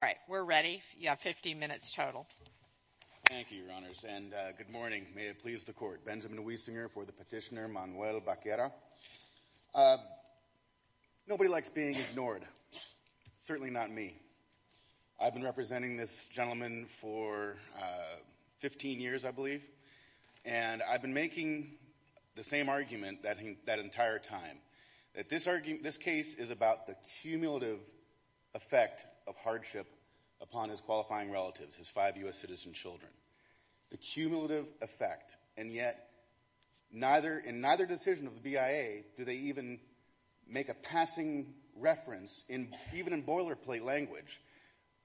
All right, we're ready. You have 15 minutes total. Thank you, Your Honors, and good morning. May it please the Court. Benjamin Wiesinger for the petitioner, Manuel Vaquera. Nobody likes being ignored, certainly not me. I've been representing this gentleman for 15 years, I believe, and I've been making the same argument that entire time, that this case is about the cumulative effect of hardship upon his qualifying relatives, his five U.S. citizen children. The cumulative effect, and yet in neither decision of the BIA do they even make a passing reference, even in boilerplate language,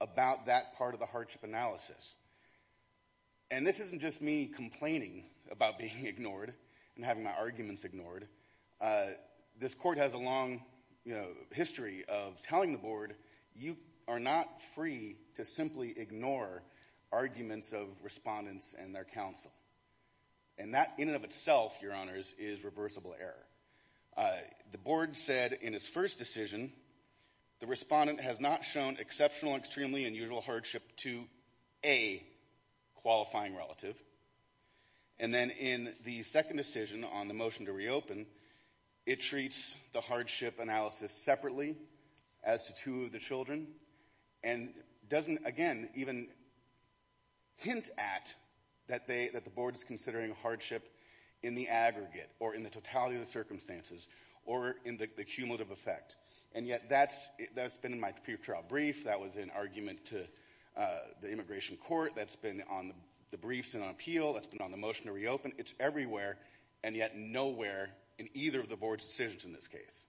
about that part of the hardship analysis. And this isn't just me complaining about being ignored and having my arguments ignored. This Court has a long history of telling the Board, you are not free to simply ignore arguments of respondents and their counsel. And that, in and of itself, Your Honors, is reversible error. The Board said in its first decision, the respondent has not shown exceptional and extremely unusual hardship to a qualifying relative. And then in the second decision on the motion to reopen, it treats the hardship analysis separately as to two of the children, and doesn't, again, even hint at that the Board is considering hardship in the aggregate, or in the totality of the circumstances, or in the cumulative effect. And yet that's been in my pre-trial brief, that was in argument to the Immigration Court, that's been on the briefs and on appeal, that's been on the motion to reopen. It's everywhere, and yet nowhere in either of the Board's decisions in this case.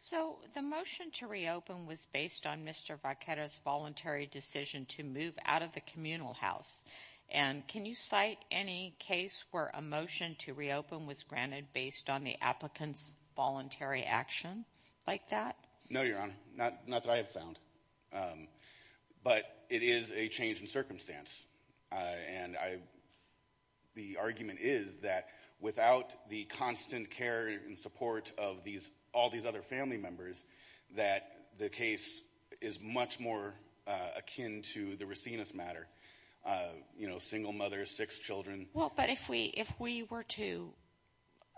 So the motion to reopen was based on Mr. Vaquera's voluntary decision to move out of the communal house. And can you cite any case where a motion to reopen was granted based on the applicant's voluntary action like that? No, Your Honor. Not that I have found. But it is a change in circumstance. And the argument is that without the constant care and support of all these other family members, that the case is much more akin to the Racinus matter. You know, single mother, six children. Well, but if we were to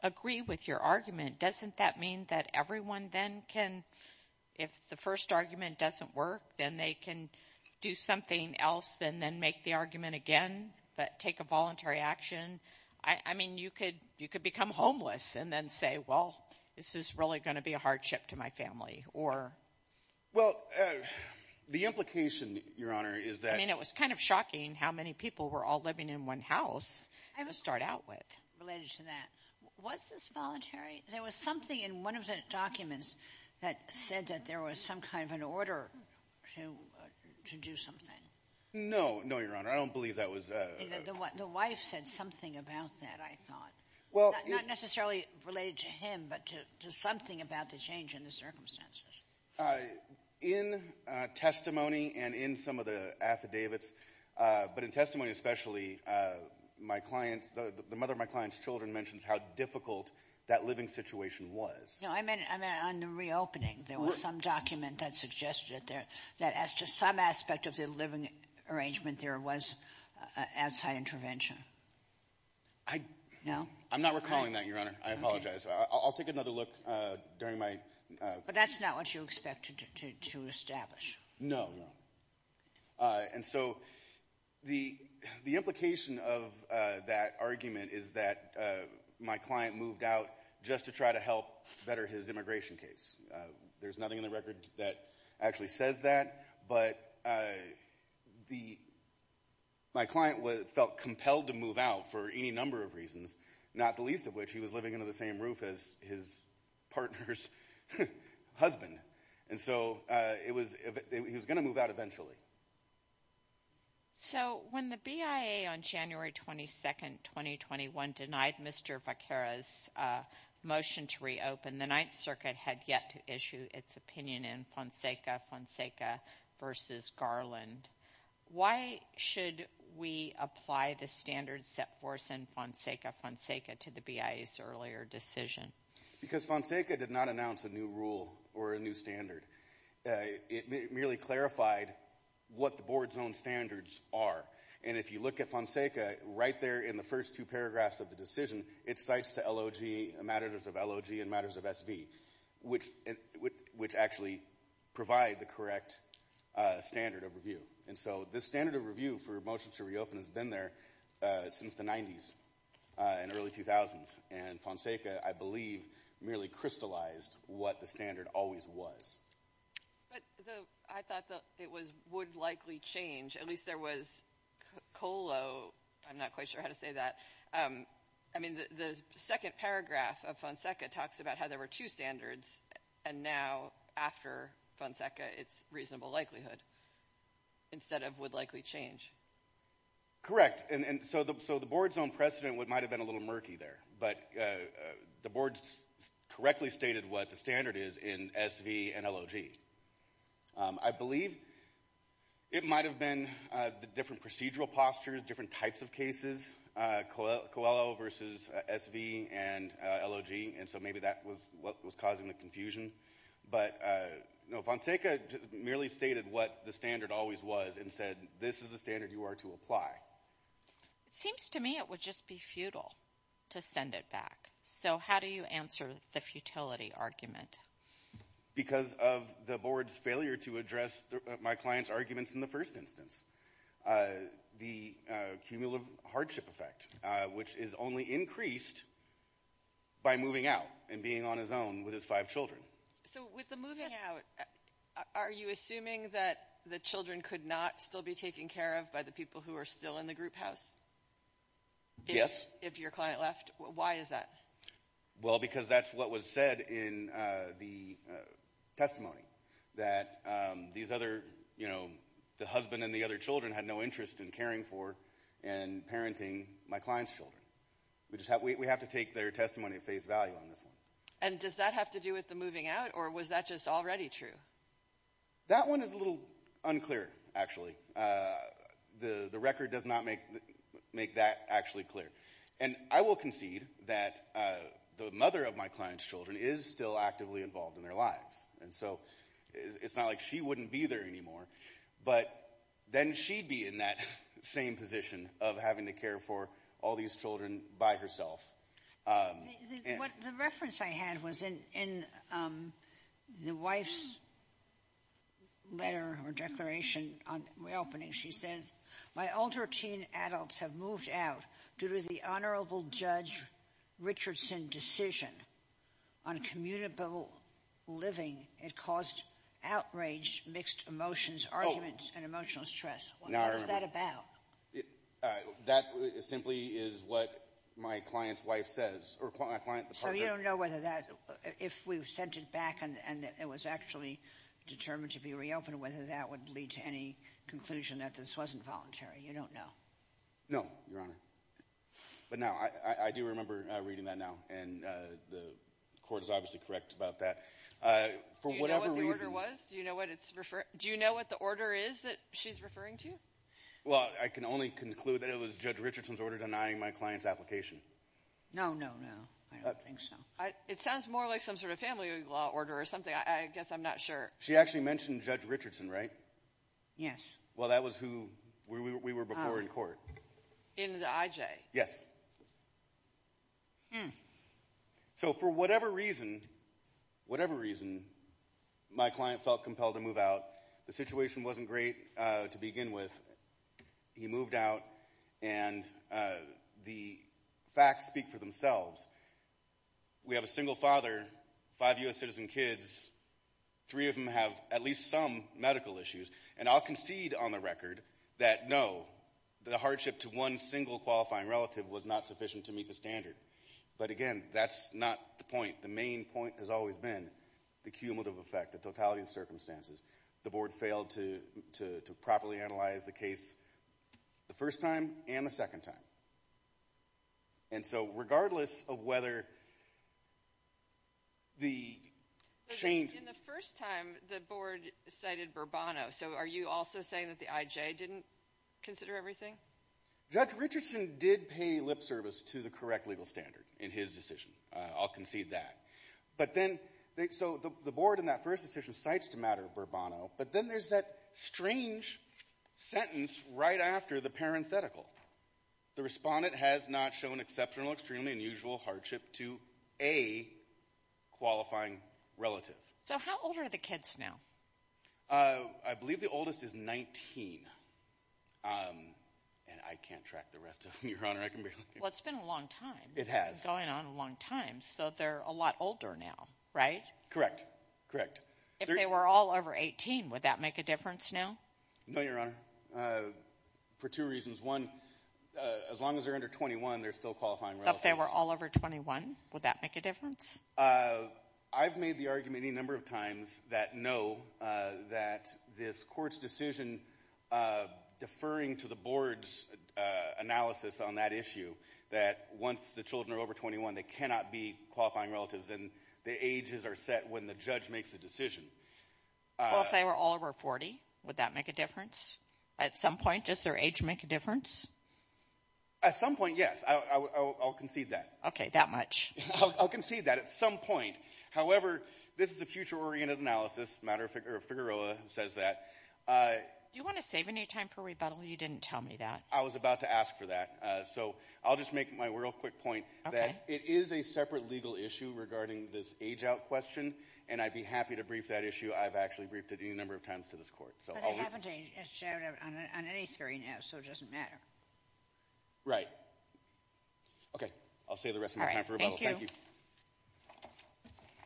agree with your argument, doesn't that mean that everyone then can, if the first argument doesn't work, then they can do something else and then make the argument again, but take a voluntary action? I mean, you could become homeless and then say, well, this is really going to be a hardship to my family, or... Well, the implication, Your Honor, is that... I mean, it was kind of shocking how many people were all living in one house to start out with. Related to that, was this voluntary? There was something in one of the documents that said that there was some kind of an order to do something. No. No, Your Honor. I don't believe that was... The wife said something about that, I thought. Well... Not necessarily related to him, but to something about the change in the circumstances. In testimony and in some of the affidavits, but in testimony especially, my client's, the mother of my client's children mentions how difficult that living situation was. No, I meant on the reopening. There was some document that suggested that as to some aspect of the living arrangement, there was outside intervention. I... No? I'm not recalling that, Your Honor. I apologize. I'll take another look during my... But that's not what you expected to establish. No, no. And so, the implication of that argument is that my client moved out just to try to help better his immigration case. There's nothing in the record that actually says that, but the... My client felt compelled to move out for any number of reasons, not the least of which he was living under the same roof as his partner's husband. And so, it was... He was going to move out eventually. So when the BIA on January 22nd, 2021 denied Mr. Vaquera's motion to reopen, the Ninth Circuit had yet to issue its opinion in Fonseca v. Garland. Why should we apply the standards set forth in Fonseca v. Fonseca to the BIA's earlier decision? Because Fonseca did not announce a new rule or a new standard. It merely clarified what the board's own standards are. And if you look at Fonseca, right there in the first two paragraphs of the decision, it cites to matters of LOG and matters of SV, which actually provide the correct standard of review. And so, the standard of review for a motion to reopen has been there since the 90s and early 2000s. And Fonseca, I believe, merely crystallized what the standard always was. But I thought that it would likely change. At least there was COLO. I'm not quite sure how to say that. I mean, the second paragraph of Fonseca talks about how there were two standards and now, after Fonseca, it's reasonable likelihood, instead of would likely change. Correct. And so the board's own precedent might have been a little murky there. But the board correctly stated what the standard is in SV and LOG. I believe it might have been the different procedural postures, different types of cases, COLO versus SV and LOG. And so maybe that was what was causing the confusion. But, you know, Fonseca merely stated what the standard always was and said, this is the standard you are to apply. It seems to me it would just be futile to send it back. So how do you answer the futility argument? Because of the board's failure to address my client's arguments in the first instance. The cumulative hardship effect, which is only increased by moving out and being on his own with his five children. So with the moving out, are you assuming that the children could not still be taken care of by the people who are still in the group house? Yes. If your client left? Why is that? Well, because that's what was said in the testimony. That these other, you know, the husband and the other children had no interest in caring for and parenting my client's children. We have to take their testimony at face value on this one. And does that have to do with the moving out? Or was that just already true? That one is a little unclear, actually. The record does not make that actually clear. And I will concede that the mother of my client's children is still actively involved in their lives. And so it's not like she wouldn't be there anymore. But then she'd be in that same position of having to care for all these children by herself. The reference I had was in the wife's letter or declaration on reopening. She says, my older teen adults have moved out due to the Honorable Judge Richardson decision on commutable living. It caused outraged mixed emotions, arguments, and emotional stress. Oh, now I remember. What is that about? That simply is what my client's wife says, or my client, the partner. So you don't know whether that, if we sent it back and it was actually determined to reopen, whether that would lead to any conclusion that this wasn't voluntary. You don't know. No, Your Honor. But now, I do remember reading that now. And the court is obviously correct about that. For whatever reason... Do you know what the order was? Do you know what it's referring... Do you know what the order is that she's referring to? Well, I can only conclude that it was Judge Richardson's order denying my client's application. No, no, no. I don't think so. It sounds more like some sort of family law order or something. I guess I'm not sure. She actually mentioned Judge Richardson, right? Yes. Well, that was who we were before in court. In the IJ? Yes. So for whatever reason, whatever reason, my client felt compelled to move out. The situation wasn't great to begin with. He moved out and the facts speak for themselves. We have a single father, five U.S. citizen kids. Three of them have at least some medical issues. And I'll concede on the record that no, the hardship to one single qualifying relative was not sufficient to meet the standard. But again, that's not the point. The main point has always been the cumulative effect, the totality of circumstances. The board failed to properly analyze the case the first time and the second time. And so regardless of whether the change... In the first time, the board cited Burbano. So are you also saying that the IJ didn't consider everything? Judge Richardson did pay lip service to the correct legal standard in his decision. I'll concede that. But then, so the board in that first decision cites the matter of Burbano, but then there's that strange sentence right after the parenthetical. The respondent has not shown exceptional, extremely unusual hardship to a qualifying relative. So how old are the kids now? I believe the oldest is 19. And I can't track the rest of them, Your Honor. Well, it's been a long time. It has. Going on a long time. So they're a lot older now, right? Correct. Correct. If they were all over 18, would that make a difference now? No, Your Honor. For two reasons. One, as long as they're under 21, they're still qualifying. If they were all over 21, would that make a difference? I've made the argument any number of times that no, that this court's decision deferring to the board's analysis on that issue, that once the children are over 21, they cannot be qualifying relatives, and the ages are set when the judge makes a decision. Well, if they were all over 40, would that make a difference at some point? Does their age make a difference? At some point, yes. I'll concede that. Okay, that much. I'll concede that at some point. However, this is a future-oriented analysis. Matter of fact, Figueroa says that. Do you want to save any time for rebuttal? You didn't tell me that. I was about to ask for that. So I'll just make my real quick point that it is a separate legal issue regarding this age-out question, and I'd be happy to brief that issue. I've actually briefed it a number of times to this court. But I haven't shared it on any screen yet, so it doesn't matter. Right. Okay, I'll save the rest of my time for rebuttal. Thank you.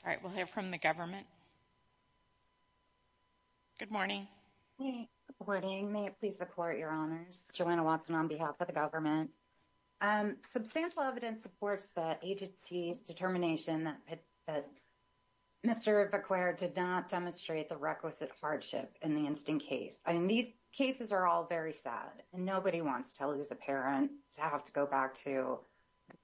All right, we'll hear from the government. Good morning. Good morning. May it please the Court, Your Honors. Joanna Watson on behalf of the government. Substantial evidence supports the agency's determination that Mr. Bequer did not demonstrate the requisite hardship in the instant case. These cases are all very sad, and nobody wants to lose a parent, to have to go back to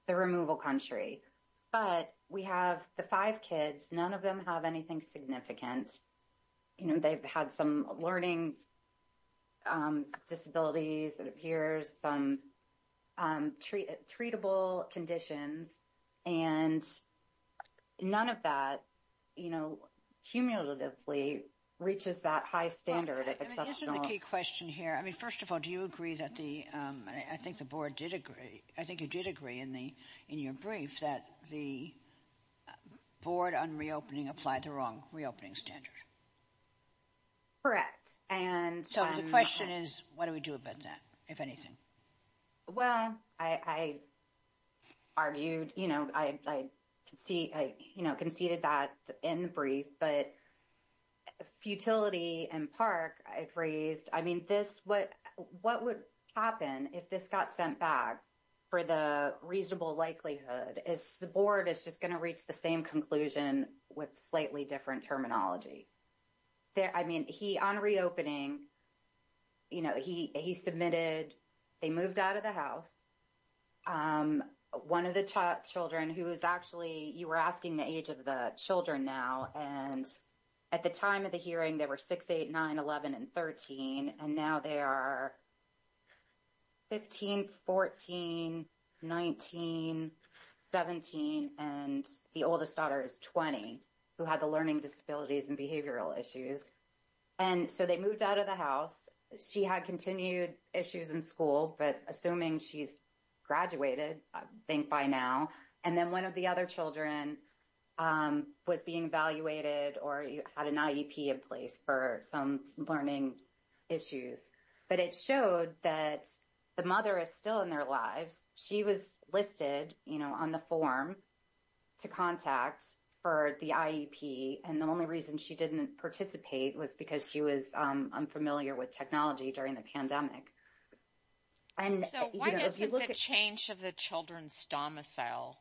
the removal country. But we have the five kids. None of them have anything significant. You know, they've had some learning disabilities that appears, some treatable conditions, and none of that, you know, cumulatively reaches that high standard. Well, I guess the key question here, I mean, first of all, do you agree that the, I think the board did agree, I think you did agree in your brief that the board on reopening applied the wrong reopening standard? Correct. And... So the question is, what do we do about that, if anything? Well, I argued, you know, I conceded that in the brief, but futility and PARC, I've raised, I mean, this, what would happen if this got sent back for the reasonable likelihood, is the board is just going to reach the same conclusion with slightly different terminology. I mean, he, on reopening, you know, he submitted, they moved out of the house. One of the children who is actually, you were asking the age of the children now, and at the time of the hearing, they were 6, 8, 9, 11, and 13, and now they are 15, 14, 19, 17, and the oldest daughter is 20, who had the learning disabilities and behavioral issues. And so they moved out of the house. She had continued issues in school, but assuming she's graduated, I think by now, and then one of the other children was being evaluated or had an IEP in place for some learning issues. But it showed that the mother is still in their lives. She was listed, you know, on the form to contact for the IEP. And the only reason she didn't participate was because she was unfamiliar with technology during the pandemic. And so why does the change of the children's domicile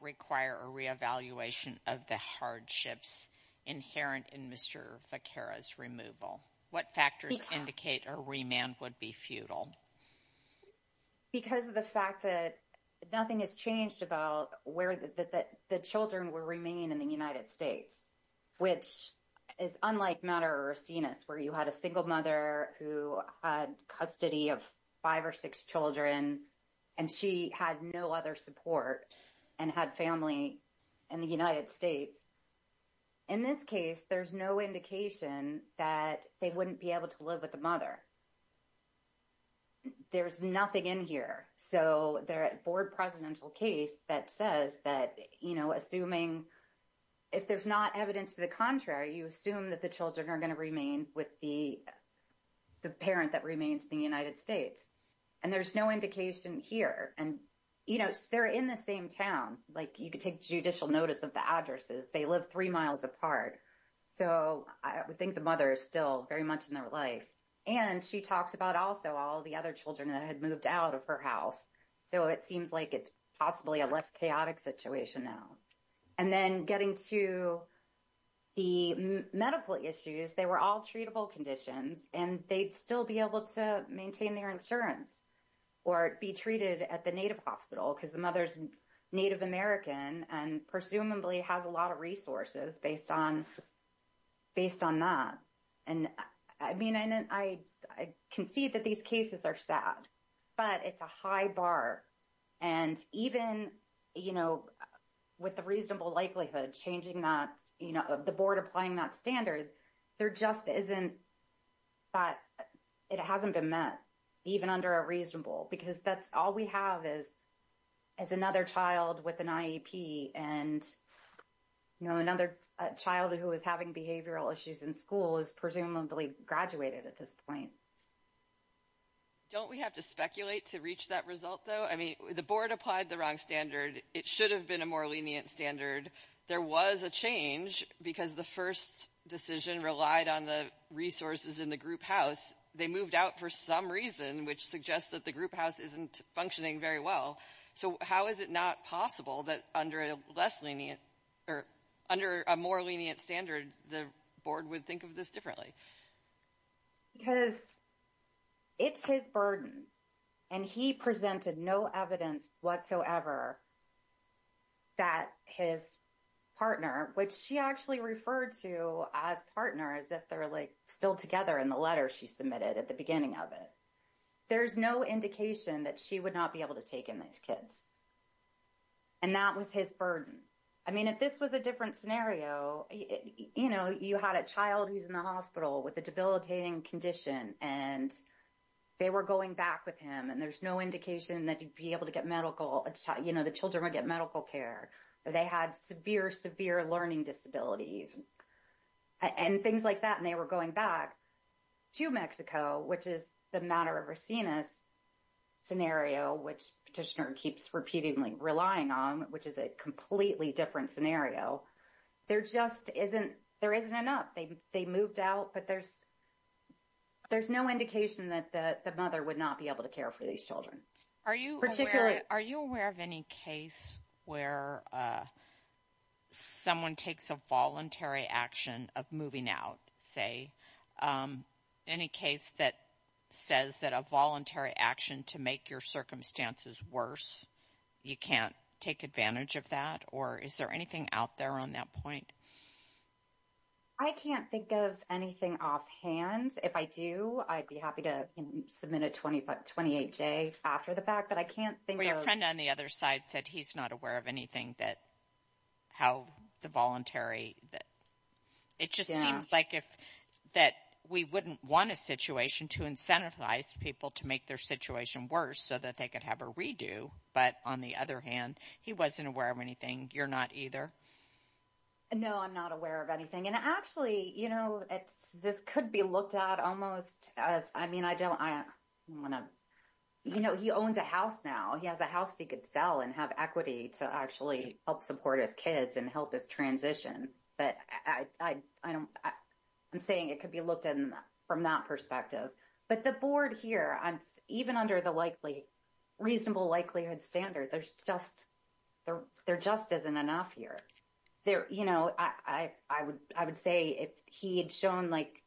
require a re-evaluation of the hardships inherent in Mr. Vaquera's removal? What factors indicate a remand would be futile? Because of the fact that nothing has changed about where the children will remain in the United States, which is unlike Madera or Racines, where you had a single mother who had custody of five or six children, and she had no other support and had family in the United States. In this case, there's no indication that they wouldn't be able to live with the mother. There's nothing in here. So the board presidential case that says that, you know, assuming if there's not evidence to the contrary, you assume that the children are going to remain with the parent that remains in the United States. And there's no indication here. And, you know, they're in the same town. Like, you could take judicial notice of the addresses. They live three miles apart. So I think the mother is still very much in their life. And she talks about also all the other children that had moved out of her house. So it seems like it's possibly a less chaotic situation now. And then getting to the medical issues, they were all treatable conditions, and they'd still be able to maintain their insurance or be treated at the native hospital because the mother's Native American and presumably has a lot of resources based on that. And I mean, I concede that these cases are sad, but it's a high bar. And even, you know, with the reasonable likelihood of changing that, you know, the board applying that standard, there just isn't that it hasn't been met, even under a reasonable. Because that's all we have is another child with an IEP. And, you know, another child who is having behavioral issues in school is presumably graduated at this point. Don't we have to speculate to reach that result, though? I mean, the board applied the wrong standard. It should have been a more lenient standard. There was a change because the first decision relied on the resources in the group house. They moved out for some reason, which suggests that the group house isn't functioning very well. So how is it not possible that under a less lenient or under a more lenient standard, the board would think of this differently? Because it's his burden, and he presented no evidence whatsoever that his partner, which she actually referred to as partner, as if they're like still together in the letter she submitted at the beginning of it. There's no indication that she would not be able to take in these kids. And that was his burden. I mean, if this was a different scenario, you know, you had a child who's in the hospital with a debilitating condition, and they were going back with him, and there's no indication that you'd be able to get medical, you know, the children would get medical care. They had severe, severe learning disabilities. And things like that, and they were going back to Mexico, which is the matter of Racines scenario, which Petitioner keeps repeatedly relying on, which is a completely different scenario. There just isn't, there isn't enough. They moved out, but there's no indication that the mother would not be able to care for these children. Are you aware of any case where someone takes a voluntary action of moving out, say? Any case that says that a voluntary action to make your circumstances worse, you can't take advantage of that? Or is there anything out there on that point? I can't think of anything offhand. If I do, I'd be happy to submit a 28-J after the fact, but I can't think of- Well, your friend on the other side said he's not aware of anything that, how the voluntary, it just seems like if, that we wouldn't want a situation to incentivize people to make their situation worse so that they could have a redo. But on the other hand, he wasn't aware of anything. You're not either? No, I'm not aware of anything. And actually, you know, this could be looked at almost as, I mean, I don't want to, you know, he owns a house now. He has a house he could sell and have equity to actually help support his kids and help this transition. But I'm saying it could be looked at from that perspective. But the board here, even under the reasonable likelihood standard, there just isn't enough here. You know, I would say if he had shown, like,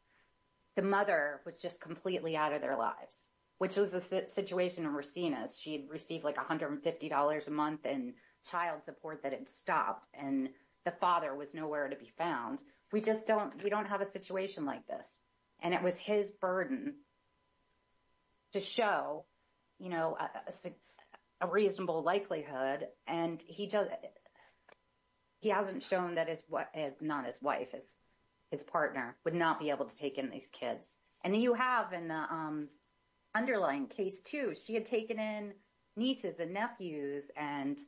the mother was just completely out of their lives, which was the situation in Racina's. She had received like $150 a month in child support that had stopped, and the father was nowhere to be found. We just don't, we don't have a situation like this. And it was his burden to show, you know, a reasonable likelihood. And he hasn't shown that his wife, not his wife, his partner would not be able to take in these kids. And then you have in the underlying case too, she had taken in nieces and nephews. And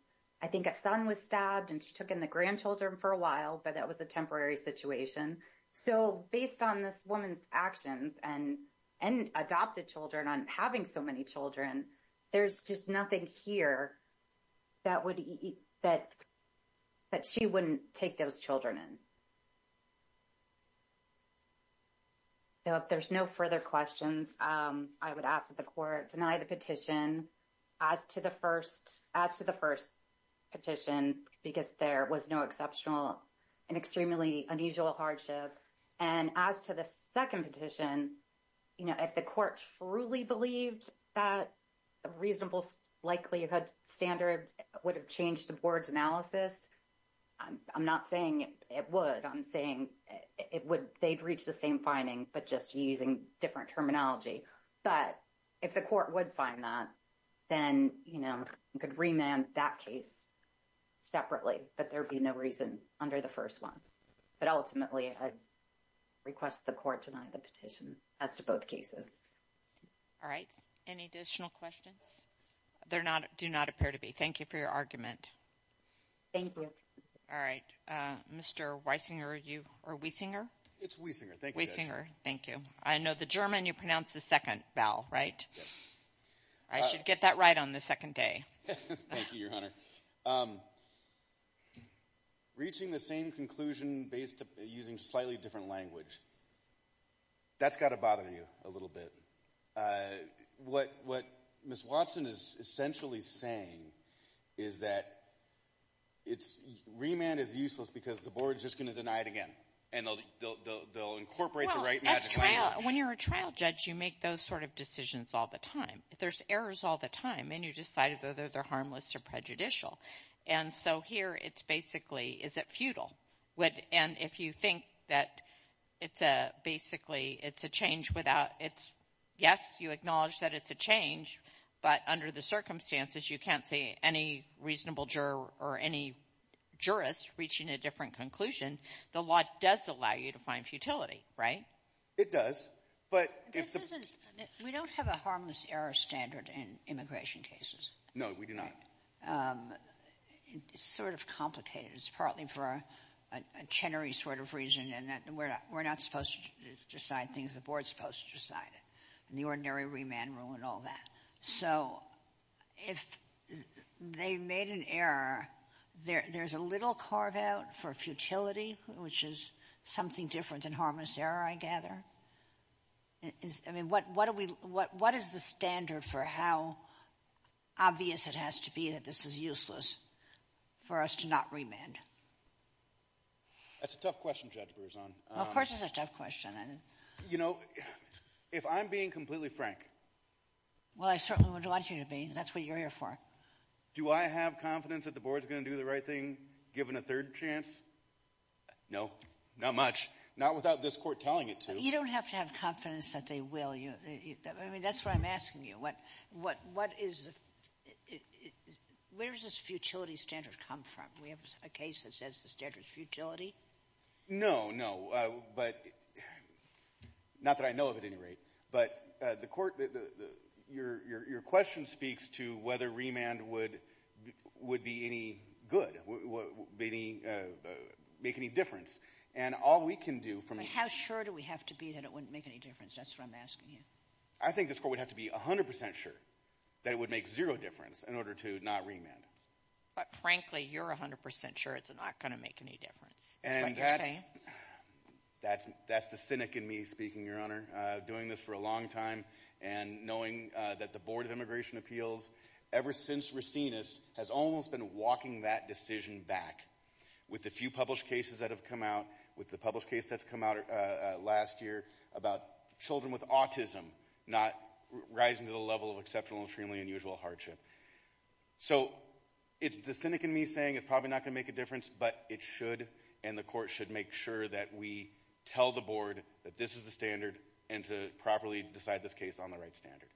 I think a son was stabbed and she took in the grandchildren for a while, but that was a temporary situation. So based on this woman's actions and adopted children on having so many children, there's just nothing here that she wouldn't take those children in. So if there's no further questions, I would ask that the court deny the petition as to the first petition, because there was no exceptional and extremely unusual hardship. And as to the second petition, you know, if the court truly believed that a reasonable likelihood standard would have changed the board's analysis, I'm not saying it would. I'm saying it would, they'd reach the same finding, but just using different terminology. But if the court would find that, then, you know, we could remand that case separately, but there'd be no reason under the first one. But ultimately, I'd request the court deny the petition as to both cases. All right. Any additional questions? There do not appear to be. Thank you for your argument. Thank you. All right. Mr. Weisinger, are you, or Weisinger? It's Weisinger, thank you. Weisinger, thank you. I know the German, you pronounce the second vowel, right? I should get that right on the second day. Thank you, Your Honor. Reaching the same conclusion based, using slightly different language. That's got to bother you a little bit. What Ms. Watson is essentially saying is that remand is useless because the board's just going to deny it again, and they'll incorporate the right magic formula. When you're a trial judge, you make those sort of decisions all the time. There's errors all the time, and you decide whether they're harmless or prejudicial. And so here, it's basically, is it futile? And if you think that it's a, basically, it's a change without, it's, yes, you acknowledge that it's a change, but under the circumstances, you can't see any reasonable juror or any jurist reaching a different conclusion. The law does allow you to find futility, right? It does. But if the... No, we do not. It's sort of complicated. It's partly for a Chenery sort of reason, in that we're not supposed to decide things, the board's supposed to decide it, and the ordinary remand rule and all that. So if they made an error, there's a little carve-out for futility, which is something different than harmless error, I gather. I mean, what is the standard for how obvious it has to be that this is useless for us to not remand? That's a tough question, Judge Berzon. Of course, it's a tough question. You know, if I'm being completely frank... Well, I certainly would want you to be. That's what you're here for. Do I have confidence that the board's going to do the right thing, given a third chance? No, not much. Not without this court telling it to. You don't have to have confidence that they will. I mean, that's what I'm asking you. Where does this futility standard come from? We have a case that says the standard is futility? No, no. But not that I know of, at any rate. But the court, your question speaks to whether remand would be any good, make any difference. And all we can do from... How sure do we have to be that it wouldn't make any difference? That's what I'm asking you. I think this court would have to be 100% sure that it would make zero difference in order to not remand. But frankly, you're 100% sure it's not going to make any difference. That's the cynic in me speaking, Your Honor. Doing this for a long time and knowing that the Board of Immigration Appeals, ever since Racinus, has almost been walking that decision back. With the few published cases that have come out, with the published case that's come out last year about children with autism, not rising to the level of exceptional, extremely unusual hardship. So it's the cynic in me saying it's probably not going to make a difference, but it should. And the court should make sure that we tell the Board that this is the standard and to properly decide this case on the right standard.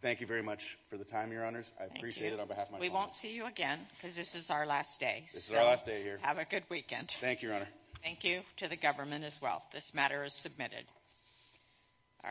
Thank you very much for the time, Your Honors. I appreciate it on behalf of my colleagues. We won't see you again because this is our last day. This is our last day here. Have a good weekend. Thank you, Your Honor. Thank you to the government as well. This matter is submitted. All right.